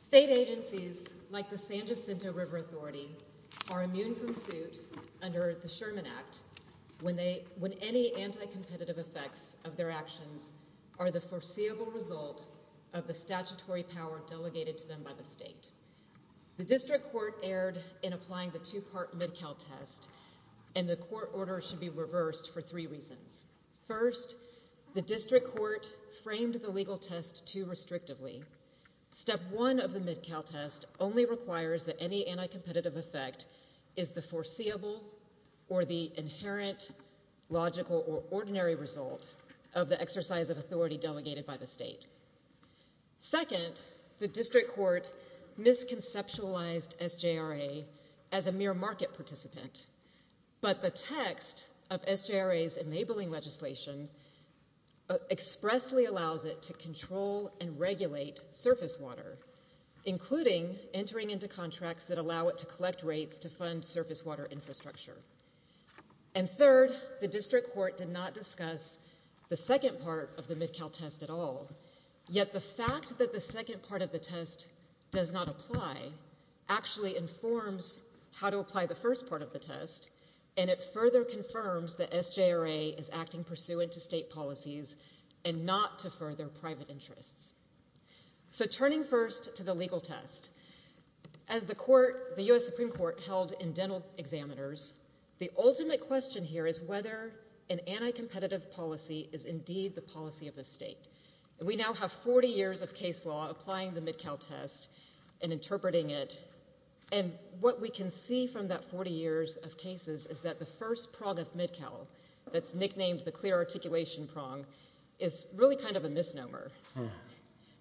State agencies, like the San Jacinto River Authority, are immune from suit under the Sherman Act when any anti-competitive effects of their actions are the foreseeable result of the statutory power delegated to them by the state. The district court erred in applying the two-part Mid-Cal test, and the court order should be reversed for three reasons. First, the district court framed the legal test too restrictively. Step one of the Mid-Cal test only requires that any anti-competitive effect is the foreseeable or the inherent, logical, or ordinary result of the exercise of authority delegated by the state. Second, the district court misconceptualized SJRA as a mere market participant, but the text of SJRA's enabling legislation expressly allows it to control and regulate surface water, including entering into contracts that allow it to collect rates to fund surface water infrastructure. And third, the district court did not discuss the second part of the Mid-Cal test at all, yet the fact that the second part of the test does not apply actually informs how to apply the first part of the test, and it further confirms that SJRA is acting pursuant to state policies and not to further private interests. So turning first to the legal test, as the court, the U.S. Supreme Court held in dental examiners, the ultimate question here is whether an anti-competitive policy is indeed the policy of the state. We now have 40 years of case law applying the Mid-Cal test and interpreting it, and what we can see from that 40 years of cases is that the first prong of Mid-Cal that's nicknamed the clear articulation prong is really kind of a misnomer,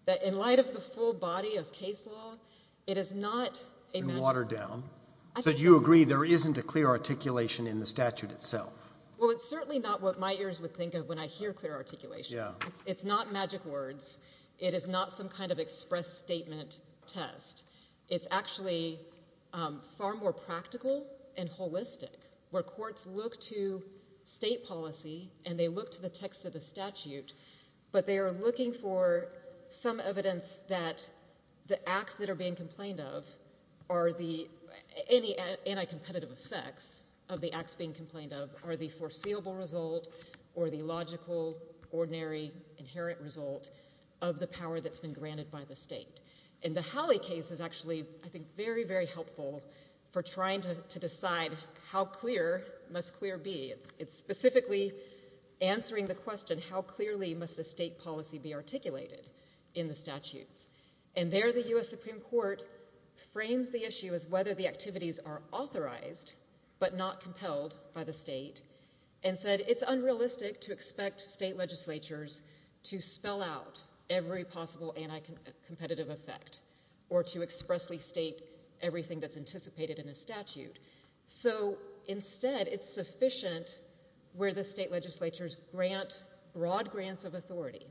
that in light of the full body of case law, it is not a magic word. Watered down. So you agree there isn't a clear articulation in the statute itself. Well, it's certainly not what my ears would think of when I hear clear articulation. It's not magic words. It is not some kind of express statement test. It's actually far more practical and holistic, where courts look to state policy and they look to the text of the statute, but they are looking for some evidence that the acts that are being complained of are the, any anti-competitive effects of the acts being complained of, are the foreseeable result or the logical, ordinary, inherent result of the power that's been granted by the state. And the Halley case is actually, I think, very, very helpful for trying to decide how clear must clear be. It's specifically answering the question, how clearly must a state policy be articulated in the statutes? And there the U.S. Supreme Court frames the issue as whether the activities are authorized but not compelled by the state, and said it's unrealistic to expect state legislatures to spell out every possible anti-competitive effect or to expressly state everything that's anticipated in a statute. So instead, it's sufficient where the state legislatures grant broad grants of authority.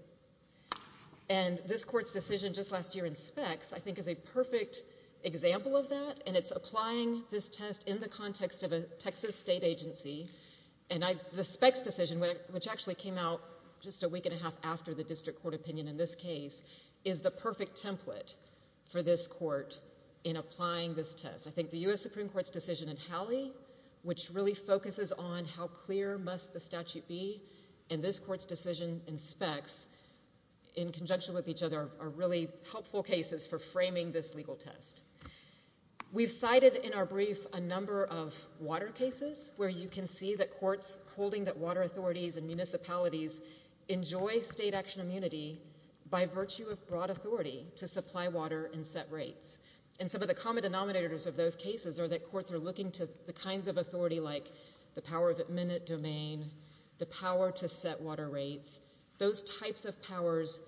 And this court's decision just last year in specs, I think, is a perfect example of that, and it's applying this test in the context of a Texas state agency. And the specs decision, which actually came out just a week and a half after the district court opinion in this case, is the perfect template for this court in applying this test. I think the U.S. Supreme Court's decision in Halley, which really focuses on how clear must the statute be, and this court's decision in specs, in conjunction with each other, are really helpful cases for framing this legal test. We've cited in our brief a number of water cases where you can see that courts holding that water authorities and municipalities enjoy state action immunity by virtue of broad authority to supply water and set rates. And some of the common denominators of those cases are that courts are looking to the kinds of authority like the power of admin domain, the power to set water rates. Those types of powers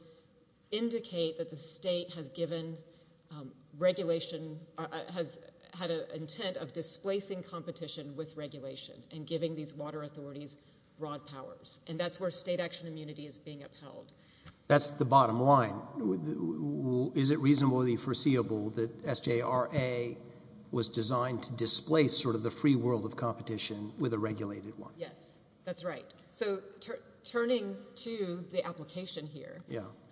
indicate that the state has given regulation, has had an intent of displacing competition with regulation and giving these water authorities broad powers. And that's where state action immunity is being upheld. That's the bottom line. Is it reasonably foreseeable that SJRA was designed to displace sort of the free world of competition with a regulated one? Yes. That's right. So turning to the application here,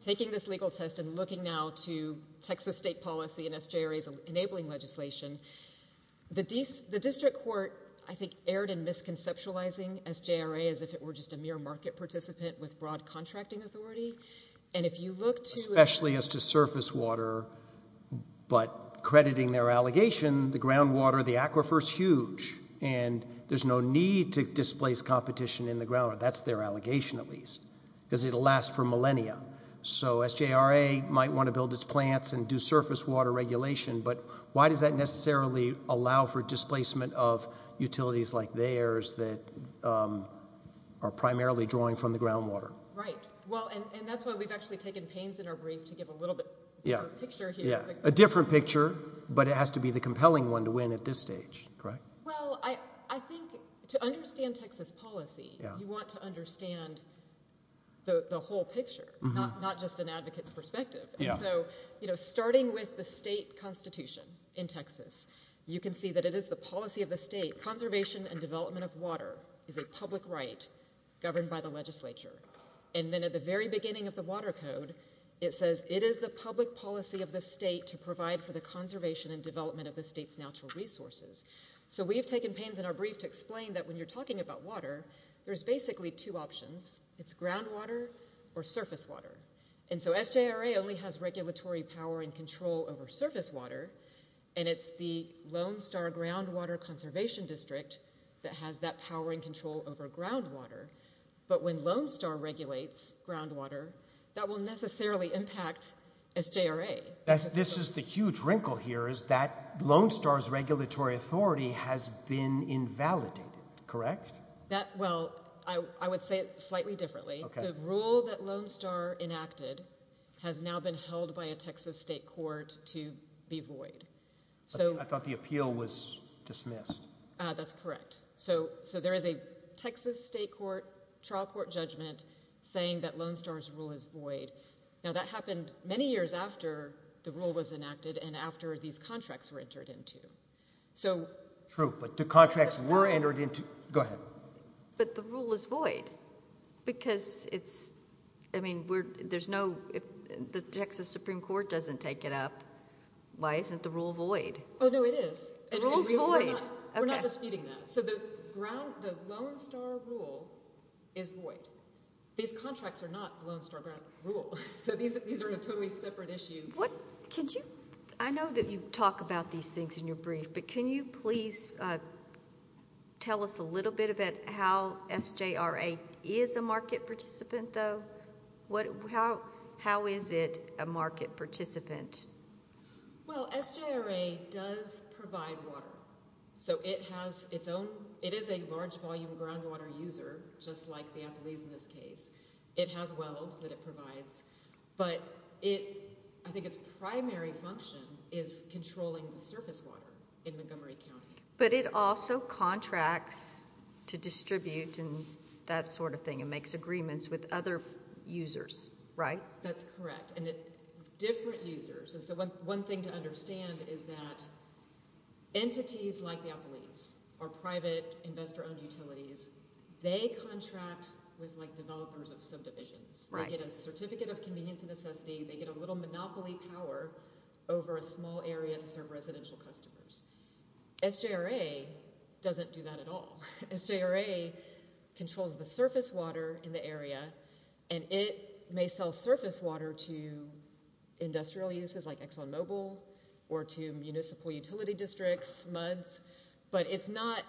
taking this legal test and looking now to Texas state policy and SJRA's enabling legislation, the district court, I think, erred in misconceptualizing SJRA as if it were just a mere market participant with broad contracting authority. And if you look to... Especially as to surface water, but crediting their allegation, the groundwater, the aquifer is huge and there's no need to displace competition in the groundwater. That's their allegation, at least, because it'll last for millennia. So SJRA might want to build its plants and do surface water regulation, but why does that necessarily allow for displacement of utilities like theirs that are primarily drawing from the groundwater? Right. Well, and that's why we've actually taken pains in our brief to give a little bit of a picture here. Yeah. A different picture, but it has to be the compelling one to win at this stage. Correct? Well, I think to understand Texas policy, you want to understand the whole picture, not just an advocate's perspective. Yeah. And so, you know, starting with the state constitution in Texas, you can see that it is the policy of the state. Conservation and development of water is a public right governed by the legislature. And then at the very beginning of the water code, it says it is the public policy of the state to provide for the conservation and development of the state's natural resources. So we've taken pains in our brief to explain that when you're talking about water, there's basically two options. It's groundwater or surface water. And so SJRA only has regulatory power and control over surface water, and it's the Lone Star Groundwater Conservation District that has that power and control over groundwater. But when Lone Star regulates groundwater, that will necessarily impact SJRA. This is the huge wrinkle here is that Lone Star's regulatory authority has been invalidated. Correct? That, well, I would say it slightly differently. The rule that Lone Star enacted has now been held by a Texas state court to be void. So I thought the appeal was dismissed. That's correct. So there is a Texas state court, trial court judgment saying that Lone Star's rule is void. Now, that happened many years after the rule was enacted and after these contracts were entered into. So... True, but the contracts were entered into. Go ahead. But the rule is void because it's, I mean, there's no, the Texas Supreme Court doesn't take it up. Why isn't the rule void? Oh, no, it is. The rule is void. We're not disputing that. So the ground, the Lone Star rule is void. These contracts are not Lone Star ground rule. So these are a totally separate issue. What, could you, I know that you talk about these things in your brief, but can you please tell us a little bit about how SJRA is a market participant, though? How is it a market participant? Well, SJRA does provide water. So it has its own, it is a large volume groundwater user, just like the Appalachians in this case. It has wells that it provides, but it, I think its primary function is controlling the surface water in Montgomery County. But it also contracts to distribute and that sort of thing. It makes agreements with other users, right? That's correct. And different users. And so one thing to understand is that entities like the Appalachians are private investor owned utilities. They contract with like developers of subdivisions. Right. They get a certificate of convenience and necessity. They get a little monopoly power over a small area to serve residential customers. SJRA doesn't do that at all. SJRA controls the surface water in the area and it may sell surface water to industrial uses like ExxonMobil or to municipal utility districts, MUDs, but it's not,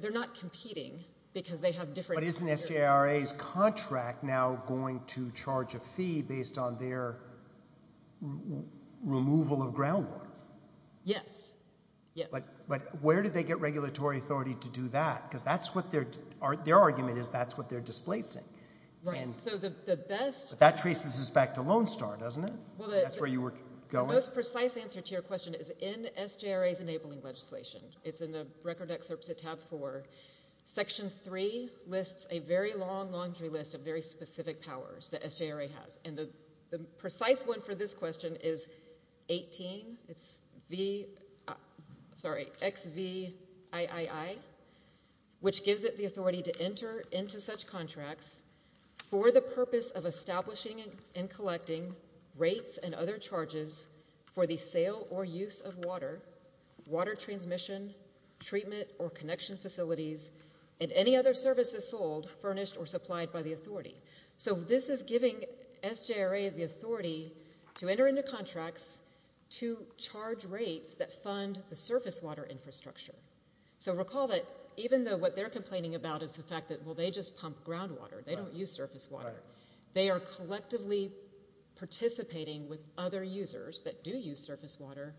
they're not competing because they have different. But isn't SJRA's contract now going to charge a fee based on their removal of groundwater? Yes. Yes. But where do they get regulatory authority to do that? Because that's what their argument is, that's what they're displacing. Right. So the best... But that traces us back to Lone Star, doesn't it? That's where you were going. Well, the most precise answer to your question is in SJRA's enabling legislation. It's in the record excerpts at tab four. Section three lists a very long laundry list of very specific powers that SJRA has. And the precise one for this question is XVIII, which gives it the authority to enter into such contracts for the purpose of establishing and collecting rates and other charges for the sale or use of water, water transmission, treatment or connection facilities, and any other services sold, furnished or supplied by the authority. So this is giving SJRA the authority to enter into contracts to charge rates that fund the surface water infrastructure. So recall that even though what they're complaining about is the fact that, well, they just pump groundwater, they don't use surface water, they are collectively participating with other users that do use surface water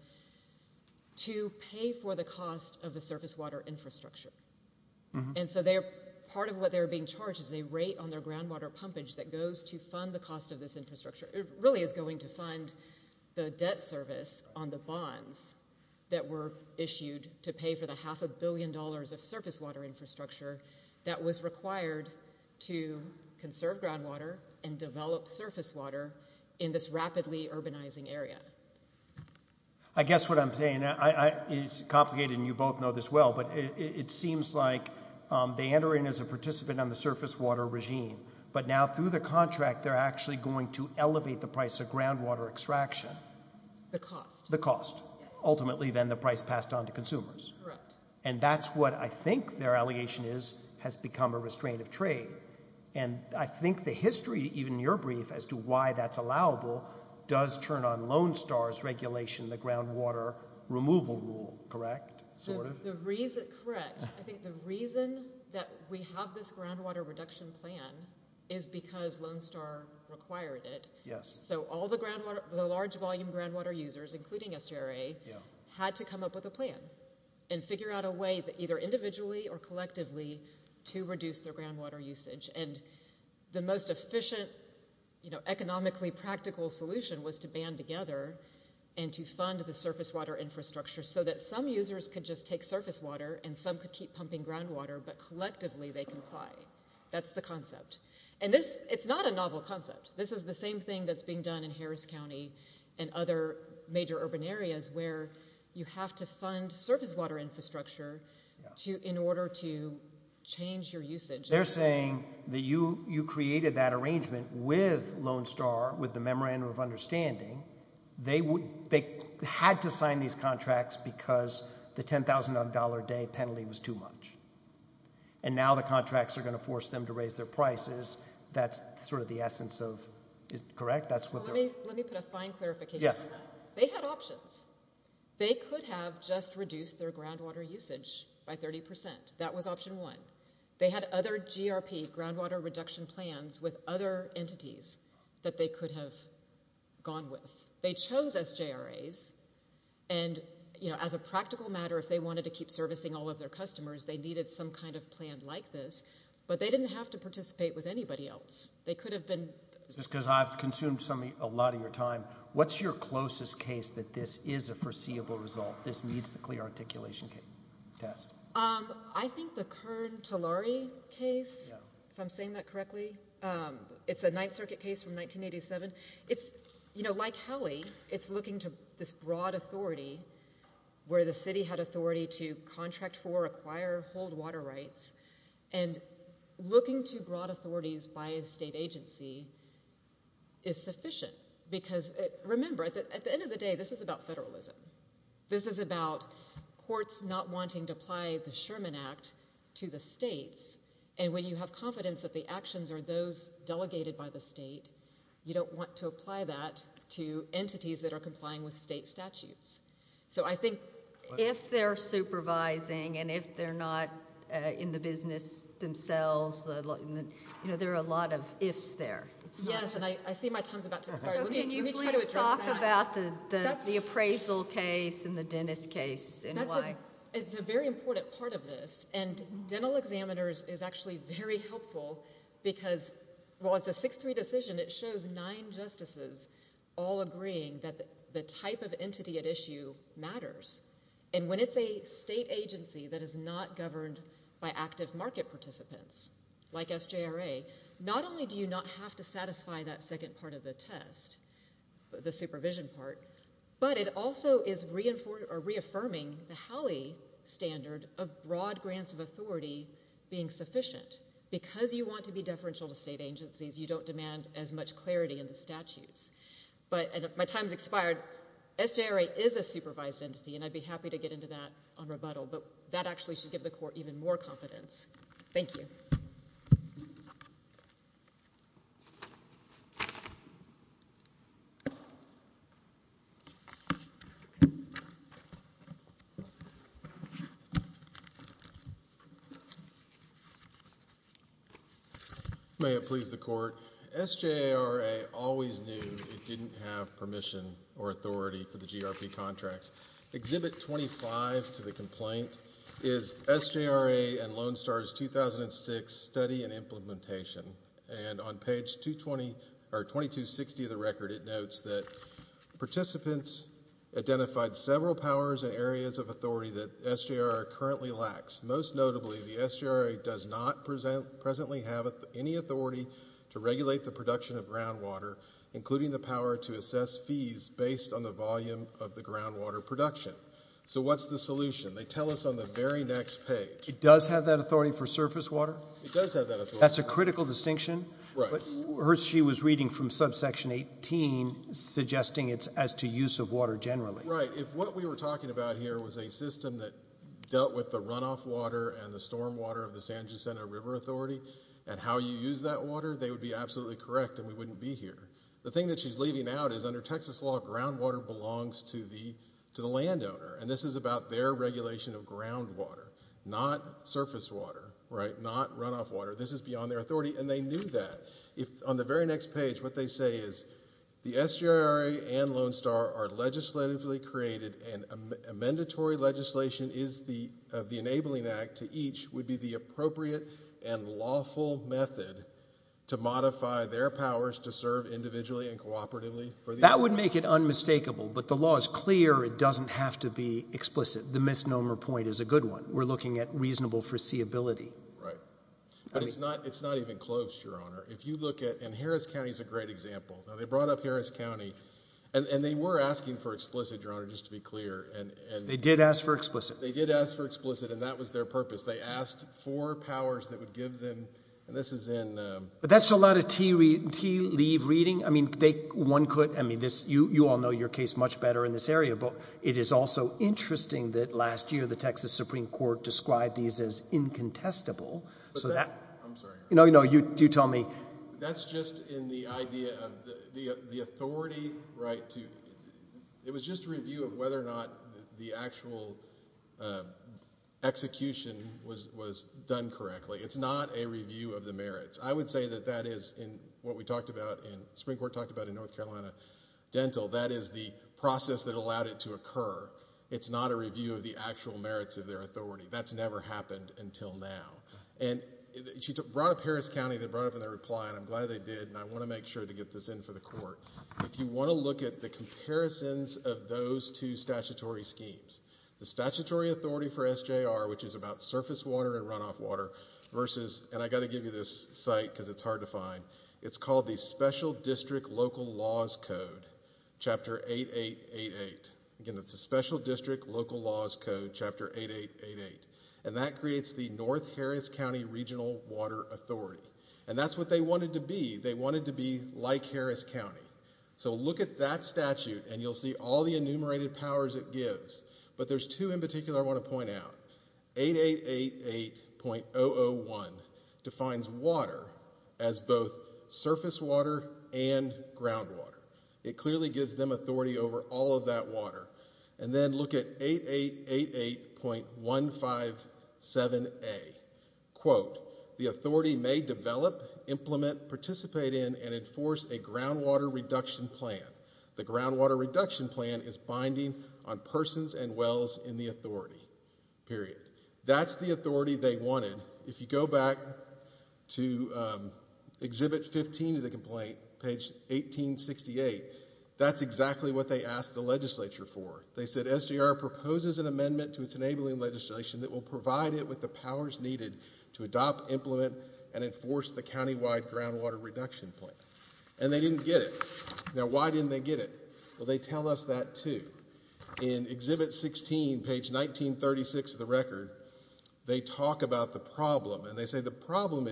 to pay for the cost of the surface water infrastructure. And so part of what they're being charged is a rate on their groundwater pumpage that goes to fund the cost of this infrastructure. It really is going to fund the debt service on the bonds that were issued to pay for the half a billion dollars of surface water infrastructure that was required to conserve groundwater and develop surface water in this rapidly urbanizing area. I guess what I'm saying is complicated and you both know this well. But it seems like they enter in as a participant on the surface water regime. But now through the contract, they're actually going to elevate the price of groundwater The cost. The cost. Ultimately, then the price passed on to consumers. And that's what I think their allegation is has become a restraint of trade. And I think the history, even in your brief, as to why that's allowable does turn on Lone Star's regulation, the groundwater removal rule, correct, sort of? Correct. I think the reason that we have this groundwater reduction plan is because Lone Star required it. Yes. So all the large volume groundwater users, including SJRA, had to come up with a plan and figure out a way that either individually or collectively to reduce their groundwater usage. And the most efficient, economically practical solution was to band together and to fund the surface water infrastructure so that some users could just take surface water and some could keep pumping groundwater, but collectively they comply. That's the concept. And this, it's not a novel concept. This is the same thing that's being done in Harris County and other major urban areas where you have to fund surface water infrastructure in order to change your usage. They're saying that you created that arrangement with Lone Star, with the Memorandum of Understanding. They had to sign these contracts because the $10,000 a day penalty was too much. And now the contracts are going to force them to raise their prices. That's sort of the essence of it, correct? That's what they're... Let me put a fine clarification on that. Yes. They had options. They could have just reduced their groundwater usage by 30%. That was option one. They had other GRP, groundwater reduction plans, with other entities that they could have gone with. They chose SJRAs and, you know, as a practical matter, if they wanted to keep servicing all of their customers, they needed some kind of plan like this, but they didn't have to participate with anybody else. They could have been... Just because I've consumed a lot of your time, what's your closest case that this is a foreseeable result? This meets the clear articulation test? I think the Kern-Tolari case, if I'm saying that correctly. It's a Ninth Circuit case from 1987. It's, you know, like Hallie, it's looking to this broad authority where the city had authority to contract for, acquire, hold water rights, and looking to broad authorities by a state agency is sufficient because, remember, at the end of the day, this is about federalism. This is about courts not wanting to apply the Sherman Act to the states, and when you have confidence that the actions are those delegated by the state, you don't want to apply that to entities that are complying with state statutes. So I think... If they're supervising and if they're not in the business themselves, you know, there are a lot of ifs there. Yes, and I see my time's about to expire. Let me try to address that. So can you please talk about the appraisal case and the dentist case and why? It's a very important part of this, and Dental Examiners is actually very helpful because, well, it's a 6-3 decision. It shows nine justices all agreeing that the type of entity at issue matters, and when it's a state agency that is not governed by active market participants, like SJRA, not only do you not have to satisfy that second part of the test, the supervision part, but it also is reaffirming the HALLE standard of broad grants of authority being sufficient. Because you want to be deferential to state agencies, you don't demand as much clarity in the statutes. But my time's expired. SJRA is a supervised entity, and I'd be happy to get into that on rebuttal, but that actually should give the Court even more confidence. Thank you. May it please the Court. SJRA always knew it didn't have permission or authority for the GRP contracts. Exhibit 25 to the complaint is SJRA and Loan Stars 2006 Study and Implementation, and on page 2260 of the record it notes that participants identified several powers and areas of authority that SJRA currently lacks. Most notably, the SJRA does not presently have any authority to regulate the production of groundwater, including the power to assess fees based on the volume of the groundwater production. So what's the solution? They tell us on the very next page. It does have that authority for surface water? It does have that authority. That's a critical distinction? Right. But Hershey was reading from subsection 18, suggesting it's as to use of water generally. Right. If what we were talking about here was a system that dealt with the runoff water and the storm water of the San Jacinto River Authority and how you use that water, they would be absolutely correct and we wouldn't be here. The thing that she's leaving out is under Texas law, groundwater belongs to the landowner, and this is about their regulation of groundwater, not surface water. Right. Not runoff water. This is beyond their authority. And they knew that. On the very next page, what they say is the SJRA and Loan Star are legislatively created and a mandatory legislation of the Enabling Act to each would be the appropriate and lawful method to modify their powers to serve individually and cooperatively. That would make it unmistakable, but the law is clear. It doesn't have to be explicit. The misnomer point is a good one. We're looking at reasonable foreseeability. Right. But it's not even close, Your Honor. If you look at, and Harris County is a great example. Now, they brought up Harris County, and they were asking for explicit, Your Honor, just to be clear. They did ask for explicit. They did ask for explicit, and that was their purpose. They asked for powers that would give them, and this is in. But that's a lot of tea-leave reading. I mean, one could, I mean, you all know your case much better in this area, but it is also interesting that last year the Texas Supreme Court described these as incontestable, so that. I'm sorry. No, no, you tell me. That's just in the idea of the authority, right, to, it was just a review of whether or not the actual execution was done correctly. It's not a review of the merits. I would say that that is, in what we talked about in, Supreme Court talked about in North Carolina Dental, that is the process that allowed it to occur. It's not a review of the actual merits of their authority. That's never happened until now. And she brought up Harris County, they brought up in their reply, and I'm glad they did, and I want to make sure to get this in for the court. If you want to look at the comparisons of those two statutory schemes, the statutory authority for SJR, which is about surface water and runoff water, versus, and I've got to give you this site because it's hard to find, it's called the Special District Local Laws Code, Chapter 8888. Again, that's the Special District Local Laws Code, Chapter 8888. And that creates the North Harris County Regional Water Authority. And that's what they wanted to be. They wanted to be like Harris County. So look at that statute, and you'll see all the enumerated powers it gives. But there's two in particular I want to point out, 8888.001 defines water as both surface water and groundwater. It clearly gives them authority over all of that water. And then look at 8888.157A. Quote, the authority may develop, implement, participate in, and enforce a groundwater reduction plan. The groundwater reduction plan is binding on persons and wells in the authority, period. That's the authority they wanted. If you go back to Exhibit 15 of the complaint, page 1868, that's exactly what they asked the legislature for. They said, SGR proposes an amendment to its enabling legislation that will provide it with the powers needed to adopt, implement, and enforce the countywide groundwater reduction plan. And they didn't get it. Now, why didn't they get it? Well, they tell us that, too. In Exhibit 16, page 1936 of the record, they talk about the problem, and they say the problem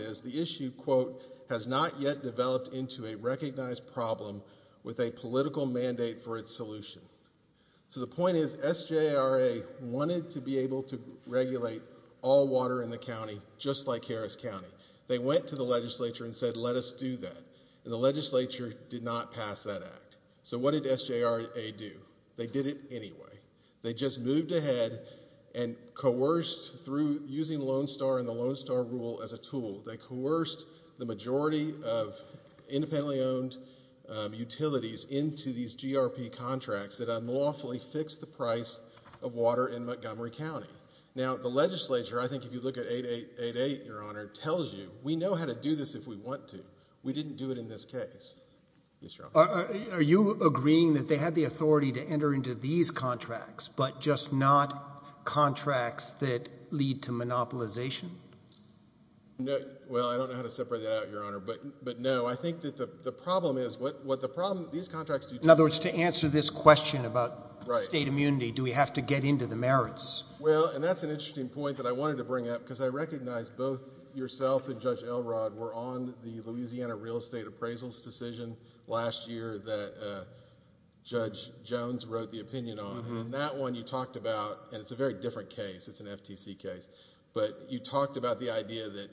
So the point is, SJRA wanted to be able to regulate all water in the county just like Harris County. They went to the legislature and said, let us do that. And the legislature did not pass that act. So what did SJRA do? They did it anyway. They just moved ahead and coerced through using Lone Star and the Lone Star rule as a tool. They coerced the majority of independently owned utilities into these GRP contracts that unlawfully fixed the price of water in Montgomery County. Now, the legislature, I think if you look at 888, Your Honor, tells you, we know how to do this if we want to. We didn't do it in this case. Are you agreeing that they had the authority to enter into these contracts, but just not contracts that lead to monopolization? Well, I don't know how to separate that out, Your Honor, but no. I think that the problem is, what the problem is, these contracts do tell you. In other words, to answer this question about state immunity, do we have to get into the merits? Well, and that's an interesting point that I wanted to bring up, because I recognize both yourself and Judge Elrod were on the Louisiana real estate appraisals decision last year that Judge Jones wrote the opinion on. And that one you talked about, and it's a very different case, it's an FTC case. But you talked about the idea that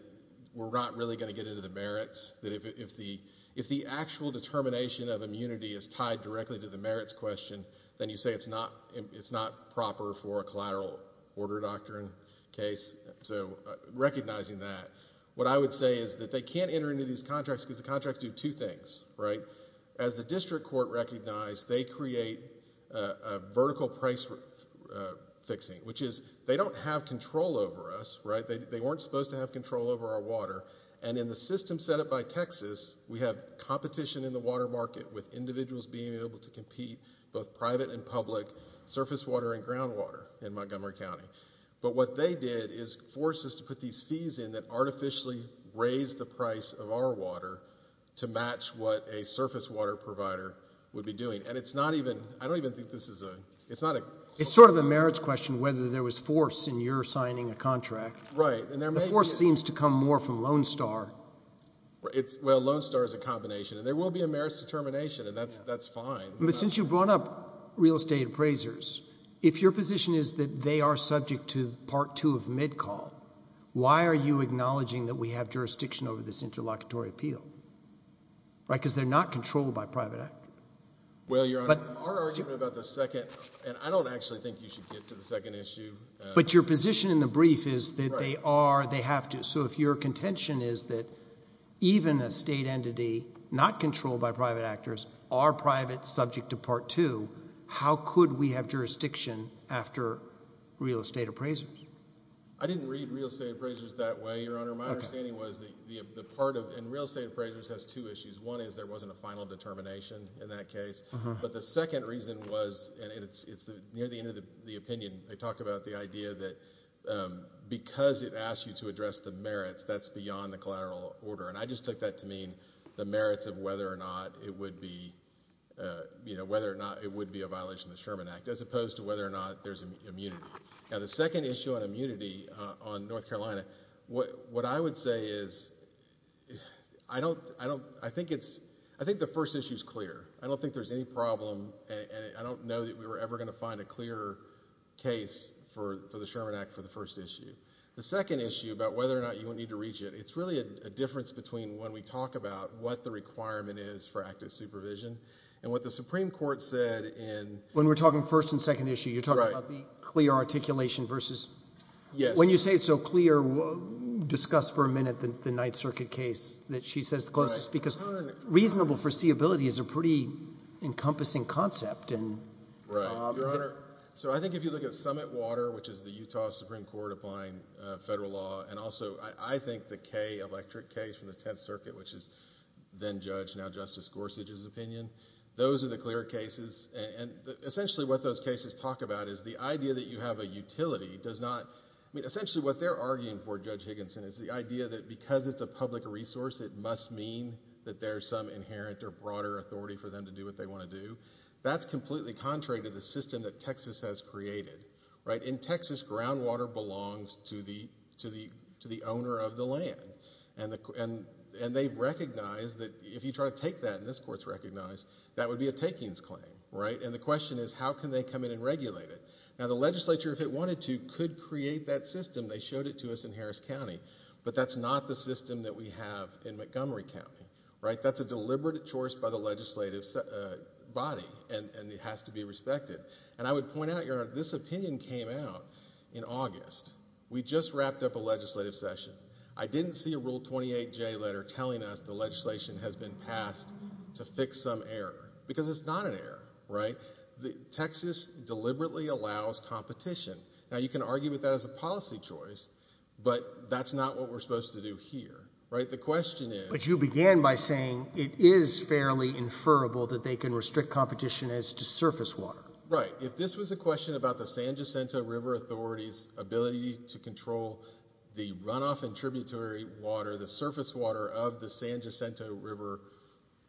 we're not really going to get into the merits, that if the actual determination of immunity is tied directly to the merits question, then you say it's not proper for a collateral order doctrine case. So recognizing that, what I would say is that they can't enter into these contracts because the contracts do two things, right? As the district court recognized, they create a vertical price fixing, which is they don't have control over us, right? They weren't supposed to have control over our water. And in the system set up by Texas, we have competition in the water market with individuals being able to compete, both private and public, surface water and ground water in Montgomery County. But what they did is force us to put these fees in that artificially raise the price of our water to match what a surface water provider would be doing. And it's not even, I don't even think this is a, it's not a. It's sort of a merits question whether there was force in your signing a contract. Right. And there may be. The force seems to come more from Lone Star. Well, Lone Star is a combination, and there will be a merits determination, and that's fine. But since you brought up real estate appraisers, if your position is that they are subject to part two of MIDCALL, why are you acknowledging that we have jurisdiction over this interlocutory appeal? Right? Because they're not controlled by private actors. Well, Your Honor, our argument about the second, and I don't actually think you should get to the second issue. But your position in the brief is that they are, they have to. So if your contention is that even a state entity not controlled by private actors are private subject to part two, how could we have jurisdiction after real estate appraisers? I didn't read real estate appraisers that way, Your Honor. My understanding was that the part of, and real estate appraisers has two issues. One is there wasn't a final determination in that case. But the second reason was, and it's near the end of the opinion, they talk about the idea that because it asks you to address the merits, that's beyond the collateral order. And I just took that to mean the merits of whether or not it would be, you know, whether or not it would be a violation of the Sherman Act, as opposed to whether or not there's immunity. Now, the second issue on immunity on North Carolina, what I would say is, I don't, I think it's, I think the first issue is clear. I don't think there's any problem, and I don't know that we were ever going to find a clear case for the Sherman Act for the first issue. The second issue about whether or not you would need to reach it, it's really a difference between when we talk about what the requirement is for active supervision and what the Supreme Court said in... When we're talking first and second issue, you're talking about the clear articulation versus... Yes. When you say it's so clear, discuss for a minute the Ninth Circuit case that she says is the closest, because reasonable foreseeability is a pretty encompassing concept, and... Right. Your Honor, so I think if you look at Summit Water, which is the Utah Supreme Court applying federal law, and also I think the Kay Electric case from the Tenth Circuit, which is then Judge, now Justice Gorsuch's opinion, those are the clear cases, and essentially what those cases talk about is the idea that you have a utility does not... I mean, essentially what they're arguing for, Judge Higginson, is the idea that because it's a public resource, it must mean that there's some inherent or broader authority for them to do what they want to do. That's completely contrary to the system that Texas has created, right? In Texas, groundwater belongs to the owner of the land, and they recognize that if you try to take that, and this Court's recognized, that would be a takings claim, right? And the question is, how can they come in and regulate it? Now, the legislature, if it wanted to, could create that system. They showed it to us in Harris County, but that's not the system that we have in Montgomery County, right? That's a deliberate choice by the legislative body, and it has to be respected. And I would point out, Your Honor, this opinion came out in August. We just wrapped up a legislative session. I didn't see a Rule 28J letter telling us the legislation has been passed to fix some error, because it's not an error, right? Texas deliberately allows competition. Now, you can argue with that as a policy choice, but that's not what we're supposed to do here, right? The question is— But you began by saying it is fairly inferrable that they can restrict competition as to surface water. Right. If this was a question about the San Jacinto River Authority's ability to control the runoff and tributary water, the surface water of the San Jacinto River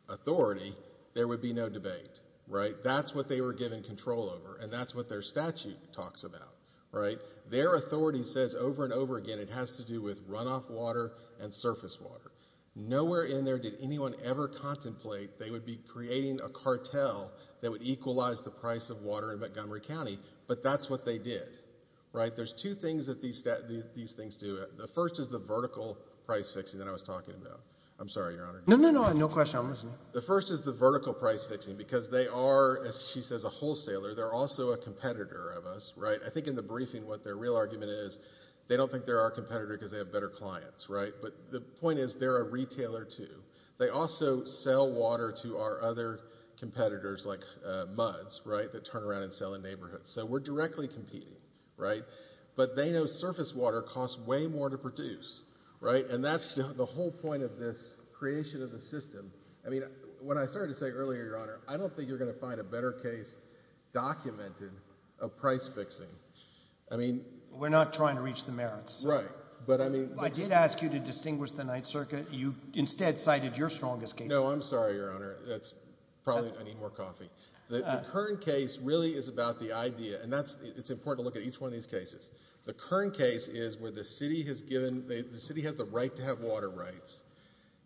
Authority, there would be no debate, right? That's what they were given control over, and that's what their statute talks about, right? Their authority says over and over again it has to do with runoff water and surface water. Nowhere in there did anyone ever contemplate they would be creating a cartel that would equalize the price of water in Montgomery County, but that's what they did, right? There's two things that these things do. The first is the vertical price fixing that I was talking about. I'm sorry, Your Honor. No, no, no. No question. The first is the vertical price fixing because they are, as she says, a wholesaler. They're also a competitor of us, right? I think in the briefing what their real argument is they don't think they're our competitor because they have better clients, right? But the point is they're a retailer too. They also sell water to our other competitors like MUDS, right, that turn around and sell in neighborhoods. So we're directly competing, right? But they know surface water costs way more to produce, right? And that's the whole point of this creation of the system. I mean, when I started to say earlier, Your Honor, I don't think you're going to find a better case documented of price fixing. I mean... We're not trying to reach the merits. Right. But I mean... I did ask you to distinguish the Ninth Circuit. You instead cited your strongest case. No, I'm sorry, Your Honor. That's probably... I need more coffee. The current case really is about the idea and that's... It's important to look at each one of these cases. The current case is where the city has given... The city has the right to have water rights.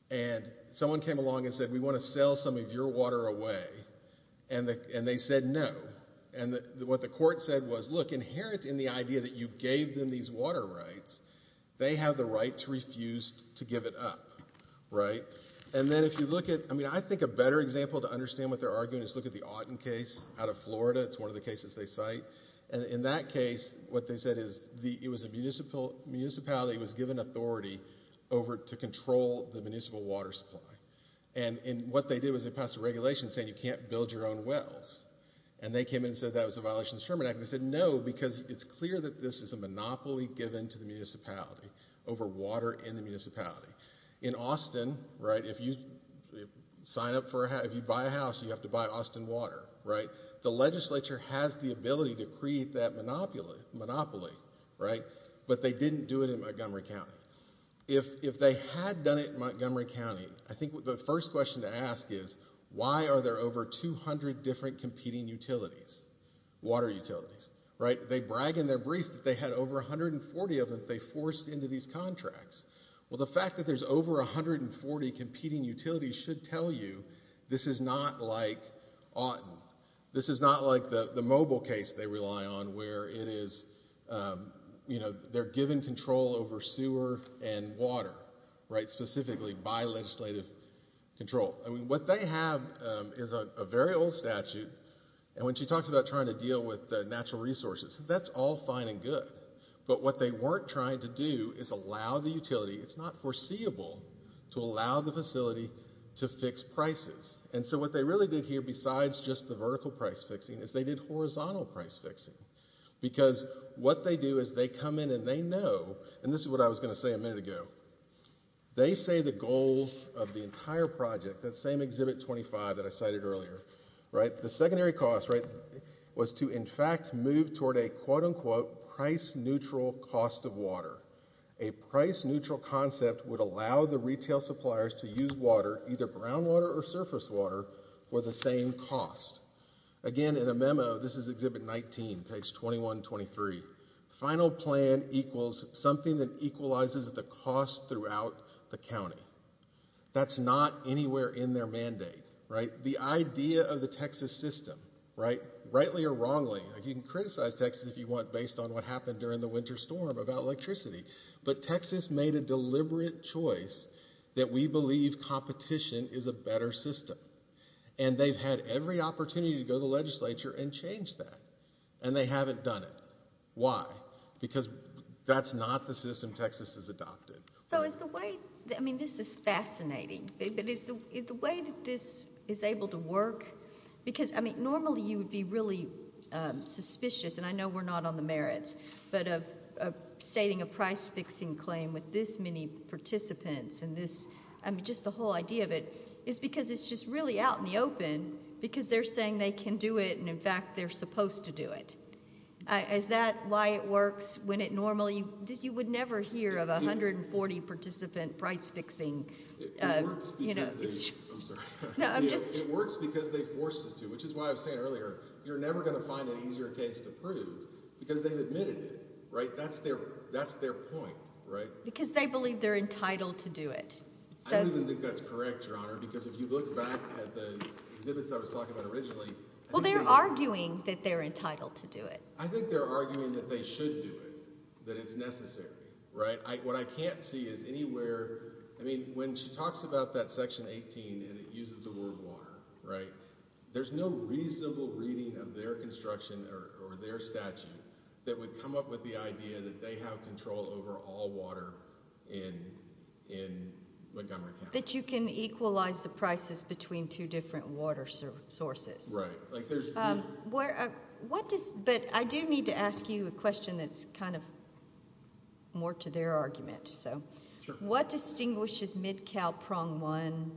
And someone came along and said, we want to sell some of your water away. And they said, no. And what the court said was, look, inherent in the idea that you gave them these water rights, they have the right to refuse to give it up, right? And then if you look at... I mean, I think a better example to understand what they're arguing is look at the Otten case out of Florida. It's one of the cases they cite. And in that case, what they said is it was a municipality that was given authority over to control the municipal water supply. And what they did was they passed a regulation saying you can't build your own wells. And they came in and said that was a violation of the Sherman Act. And they said, no, because it's clear that this is a monopoly given to the municipality over water in the municipality. In Austin, right, if you sign up for a house, if you buy a house, you have to buy Austin water, right? The legislature has the ability to create that monopoly, right? But they didn't do it in Montgomery County. If they had done it in Montgomery County, I think the first question to ask is, why are there over 200 different competing utilities, water utilities, right? They brag in their brief that they had over 140 of them that they forced into these contracts. Well, the fact that there's over 140 competing utilities should tell you this is not like Otten. This is not like the Mobile case they rely on where it is, you know, they're given control over sewer and water, right, specifically by legislative control. I mean, what they have is a very old statute, and when she talks about trying to deal with the natural resources, that's all fine and good. But what they weren't trying to do is allow the utility, it's not foreseeable, to allow the facility to fix prices. And so what they really did here, besides just the vertical price fixing, is they did horizontal price fixing. Because what they do is they come in and they know, and this is what I was going to say a minute ago. They say the goal of the entire project, that same Exhibit 25 that I cited earlier, right, the secondary cost, right, was to in fact move toward a quote-unquote price neutral cost of water. A price neutral concept would allow the retail suppliers to use water, either brown water or surface water, for the same cost. Again, in a memo, this is Exhibit 19, page 21-23, final plan equals something that equalizes the cost throughout the county. That's not anywhere in their mandate, right? The idea of the Texas system, right, rightly or wrongly, you can criticize Texas if you want based on what happened during the winter storm about electricity, but Texas made a And they've had every opportunity to go to the legislature and change that. And they haven't done it. Why? Because that's not the system Texas has adopted. So is the way, I mean this is fascinating, but is the way that this is able to work, because I mean normally you would be really suspicious, and I know we're not on the merits, but of stating a price fixing claim with this many participants and this, I mean just the whole idea of it, is because it's just really out in the open, because they're saying they can do it, and in fact they're supposed to do it. Is that why it works when it normally, you would never hear of 140 participant price fixing, you know. It works because they, I'm sorry. No, I'm just. It works because they forced us to, which is why I was saying earlier, you're never going to find an easier case to prove, because they've admitted it, right? That's their point, right? So. I don't even think that's true. I think that's correct, Your Honor, because if you look back at the exhibits I was talking about originally. Well, they're arguing that they're entitled to do it. I think they're arguing that they should do it. That it's necessary, right? What I can't see is anywhere, I mean, when she talks about that section 18, and it uses the word water, right? There's no reasonable reading of their construction or their statute that would come up with the Right. Right. Right. Right. Right. Right. Right. Right. Right. Right. Right. Right. Right. Water sources. You can equalize the prices between two different water sources. Right. There's. But I do need to ask you a question that's kind of more to their argument. So. What distinguishes Mid-Cal Prong One.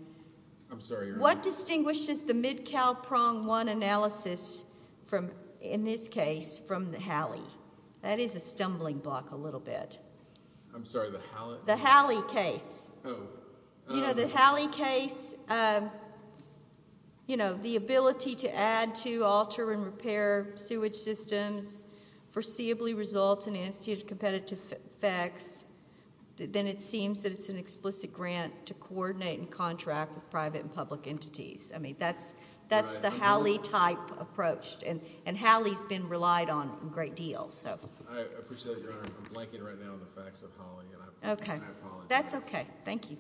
I'm sorry, Your Honor. What distinguishes the Mid-Cal Prong One analysis, in this case, from the Halley? That is a stumbling block a little bit. I'm sorry, the Halley? The Halley case. Oh. You know, the Halley case, you know, the ability to add to, alter and repair sewage systems foreseeably results in instituted competitive effects. Then it seems that it's an explicit grant to coordinate and contract with private and public entities. I mean, that's that's the Halley type approach. And Halley's been relied on a great deal. So. I appreciate that, Your Honor. I'm blanking right now on the facts of Halley. And I apologize. OK. That's OK. Thank you.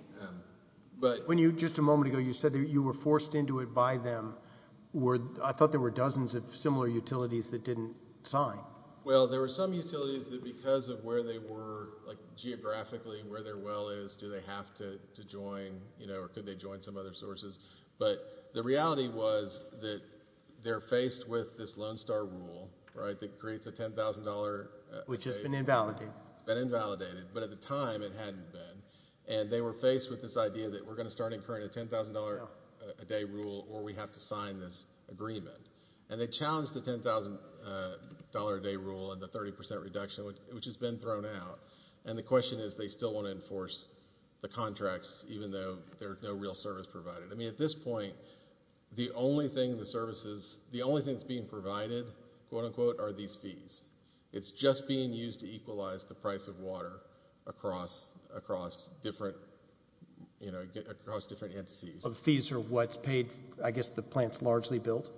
But. When you just a moment ago, you said that you were forced into it by them, where I thought there were dozens of similar utilities that didn't sign. Well, there were some utilities that because of where they were, like geographically where their well is, do they have to join, you know, or could they join some other sources? But the reality was that they're faced with this Lone Star rule, right, that creates a $10,000. Which has been invalidated. It's been invalidated. But at the time, it hadn't been. And they were faced with this idea that we're going to start incurring a $10,000 a day rule or we have to sign this agreement. And they challenged the $10,000 a day rule and the 30 percent reduction, which has been thrown out. And the question is, they still want to enforce the contracts, even though there's no real service provided. I mean, at this point, the only thing the services the only things being provided, quote unquote, are fees. It's just being used to equalize the price of water across different, you know, across different entities. So the fees are what's paid, I guess the plant's largely built?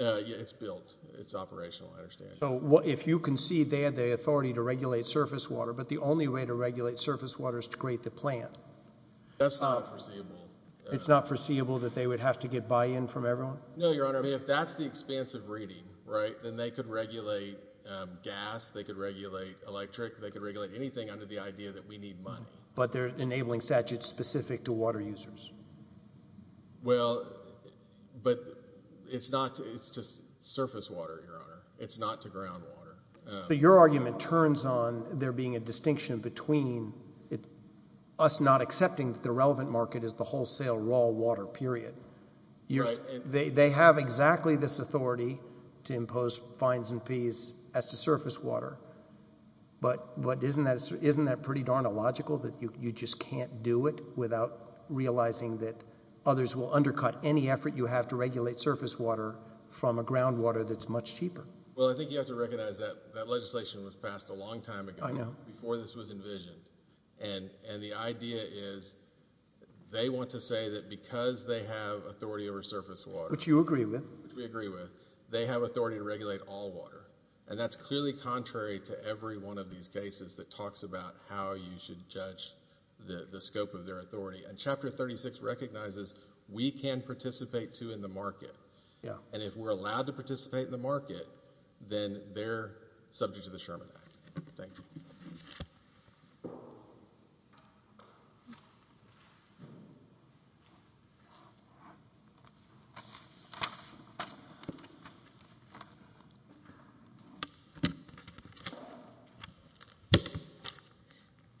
Yeah, it's built. It's operational, I understand. So if you concede they had the authority to regulate surface water, but the only way to regulate surface water is to create the plant. That's not foreseeable. It's not foreseeable that they would have to get buy-in from everyone? No, Your Honor. I mean, if that's the expanse of reading, right, then they could regulate gas, they could regulate electric, they could regulate anything under the idea that we need money. But they're enabling statutes specific to water users. Well, but it's not, it's just surface water, Your Honor. It's not to ground water. So your argument turns on there being a distinction between us not accepting that the relevant market is the wholesale raw water, period. Right. They have exactly this authority to impose fines and fees as to surface water. But isn't that pretty darn illogical that you just can't do it without realizing that others will undercut any effort you have to regulate surface water from a ground water that's much cheaper? Well, I think you have to recognize that that legislation was passed a long time ago. I know. Before this was envisioned. And the idea is they want to say that because they have authority over surface water. Which you agree with. Which we agree with. They have authority to regulate all water. And that's clearly contrary to every one of these cases that talks about how you should judge the scope of their authority. And Chapter 36 recognizes we can participate, too, in the market. And if we're allowed to participate in the market, then they're subject to the Sherman Act. Thank you. Thank you. Thank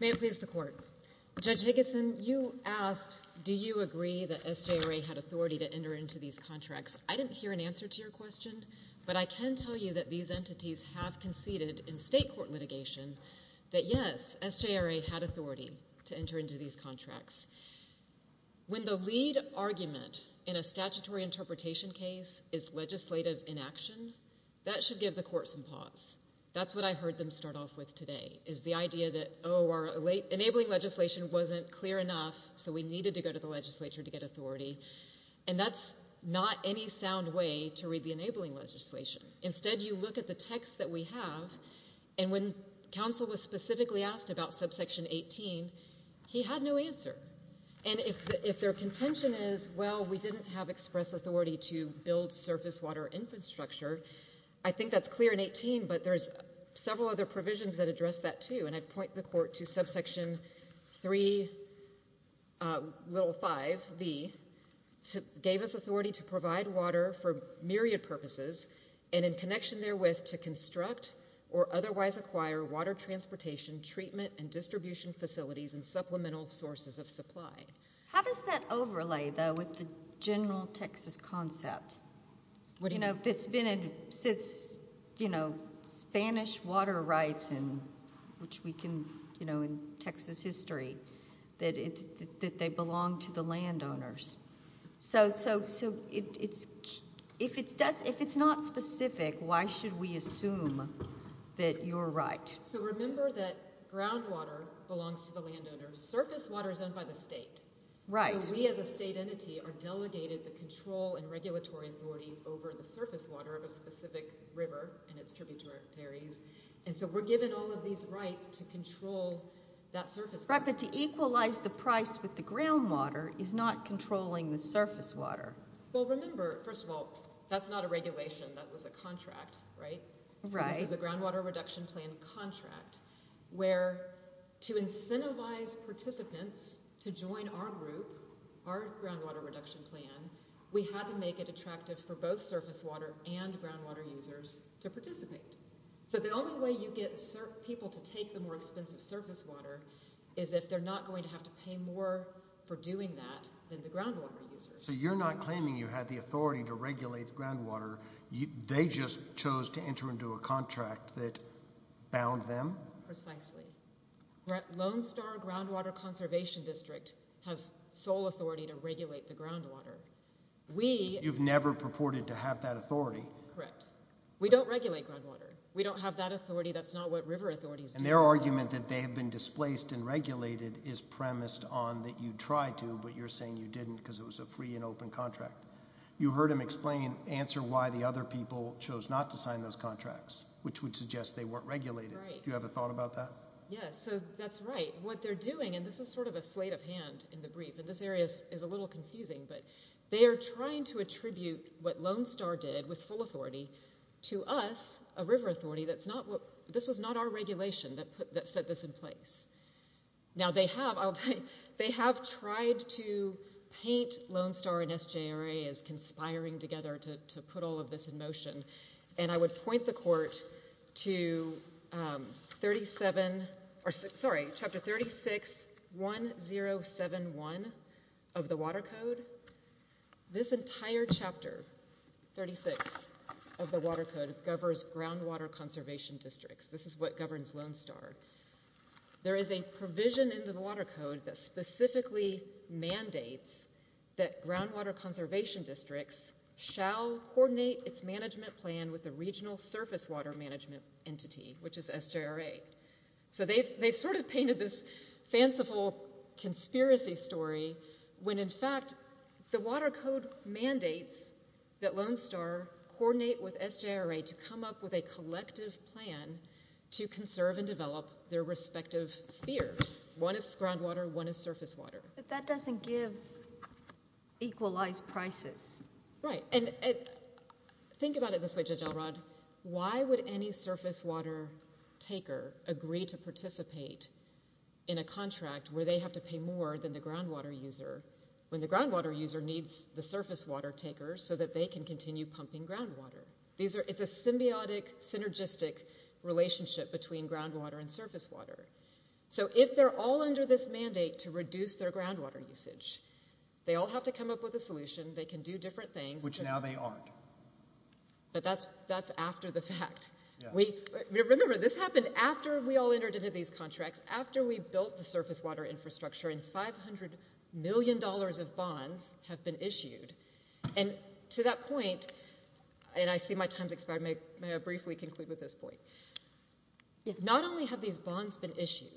you. Thank you. Thank you. Thank you. Thank you. Thank you. May it please the court. Judge Higginson, you asked, do you agree that SJRA had authority to enter into these contracts? I didn't hear an answer to your question. But I can tell you that these entities have conceded in state court litigation that, yes, SJRA had authority to enter into these contracts. When the lead argument in a statutory interpretation case is legislative inaction, that should give the court some pause. That's what I heard them start off with today, is the idea that, oh, our enabling legislation wasn't clear enough, so we needed to go to the legislature to get authority. And that's not any sound way to read the enabling legislation. Instead, you look at the text that we have, and when counsel was specifically asked about subsection 18, he had no answer. And if their contention is, well, we didn't have express authority to build surface water infrastructure, I think that's clear in 18, but there's several other provisions that address that, too. And I'd point the court to subsection 3, little 5, V, gave us authority to provide water for myriad purposes, and in connection therewith, to construct or otherwise acquire water transportation, treatment and distribution facilities, and supplemental sources of supply. How does that overlay, though, with the general Texas concept? You know, it's been since, you know, Spanish water rights, which we can, you know, in Texas history, that they belong to the landowners. So if it's not specific, why should we assume that you're right? So remember that groundwater belongs to the landowners, surface water is owned by the state. Right. So we as a state entity are delegated the control and regulatory authority over the surface water of a specific river and its tributaries, and so we're given all of these rights to control that surface water. Right, but to equalize the price with the groundwater is not controlling the surface water. Well, remember, first of all, that's not a regulation, that was a contract, right? Right. So this is a groundwater reduction plan contract, where to incentivize participants to join our group, our groundwater reduction plan, we had to make it attractive for both surface water and groundwater users to participate. So the only way you get people to take the more expensive surface water is if they're not going to have to pay more for doing that than the groundwater users. So you're not claiming you had the authority to regulate the groundwater, they just chose to enter into a contract that bound them? Precisely. Lone Star Groundwater Conservation District has sole authority to regulate the groundwater. We... But you've never purported to have that authority. Correct. We don't regulate groundwater. We don't have that authority, that's not what river authorities do. And their argument that they have been displaced and regulated is premised on that you tried to, but you're saying you didn't because it was a free and open contract. You heard him explain and answer why the other people chose not to sign those contracts, which would suggest they weren't regulated. Right. Do you have a thought about that? Yes. So that's right. What they're doing, and this is sort of a slate of hand in the brief, and this area is a little confusing, but they are trying to attribute what Lone Star did with full authority to us, a river authority, that's not what... This was not our regulation that set this in place. Now they have tried to paint Lone Star and SJRA as conspiring together to put all of this in motion. And I would point the court to chapter 361071 of the Water Code. This entire chapter, 36, of the Water Code, governs groundwater conservation districts. This is what governs Lone Star. There is a provision in the Water Code that specifically mandates that groundwater conservation districts shall coordinate its management plan with the regional surface water management entity, which is SJRA. So they've sort of painted this fanciful conspiracy story when in fact the Water Code mandates that Lone Star coordinate with SJRA to come up with a collective plan to conserve and develop their respective spheres. One is groundwater, one is surface water. But that doesn't give equalized prices. Right. And think about it this way, Judge Elrod. Why would any surface water taker agree to participate in a contract where they have to pay more than the groundwater user when the groundwater user needs the surface water taker so that they can continue pumping groundwater? It's a symbiotic, synergistic relationship between groundwater and surface water. So if they're all under this mandate to reduce their groundwater usage, they all have to come up with a solution, they can do different things. Which now they aren't. But that's after the fact. Remember, this happened after we all entered into these contracts, after we built the surface water infrastructure and $500 million of bonds have been issued. And to that point, and I see my time's expired, may I briefly conclude with this point. Not only have these bonds been issued,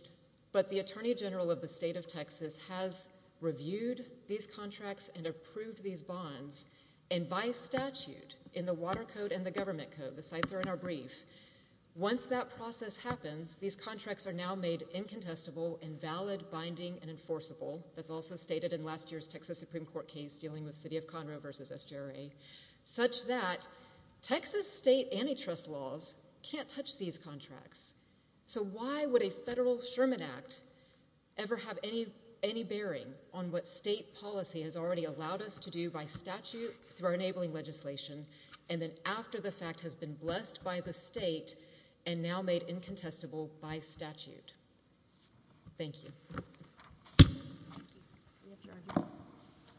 but the Attorney General of the State of Texas has reviewed these contracts and approved these bonds, and by statute, in the Water Code and the Government Code, the sites are in our brief, once that process happens, these contracts are now made incontestable and valid, binding, and enforceable, that's also stated in last year's Texas Supreme Court case dealing with City of Conroe versus SJRA, such that Texas state antitrust laws can't touch these contracts. So why would a federal Sherman Act ever have any bearing on what state policy has already allowed us to do by statute through our enabling legislation, and then after the fact has been blessed by the state, and now made incontestable by statute? Thank you.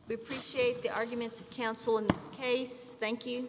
We appreciate the arguments of counsel in this case. Thank you.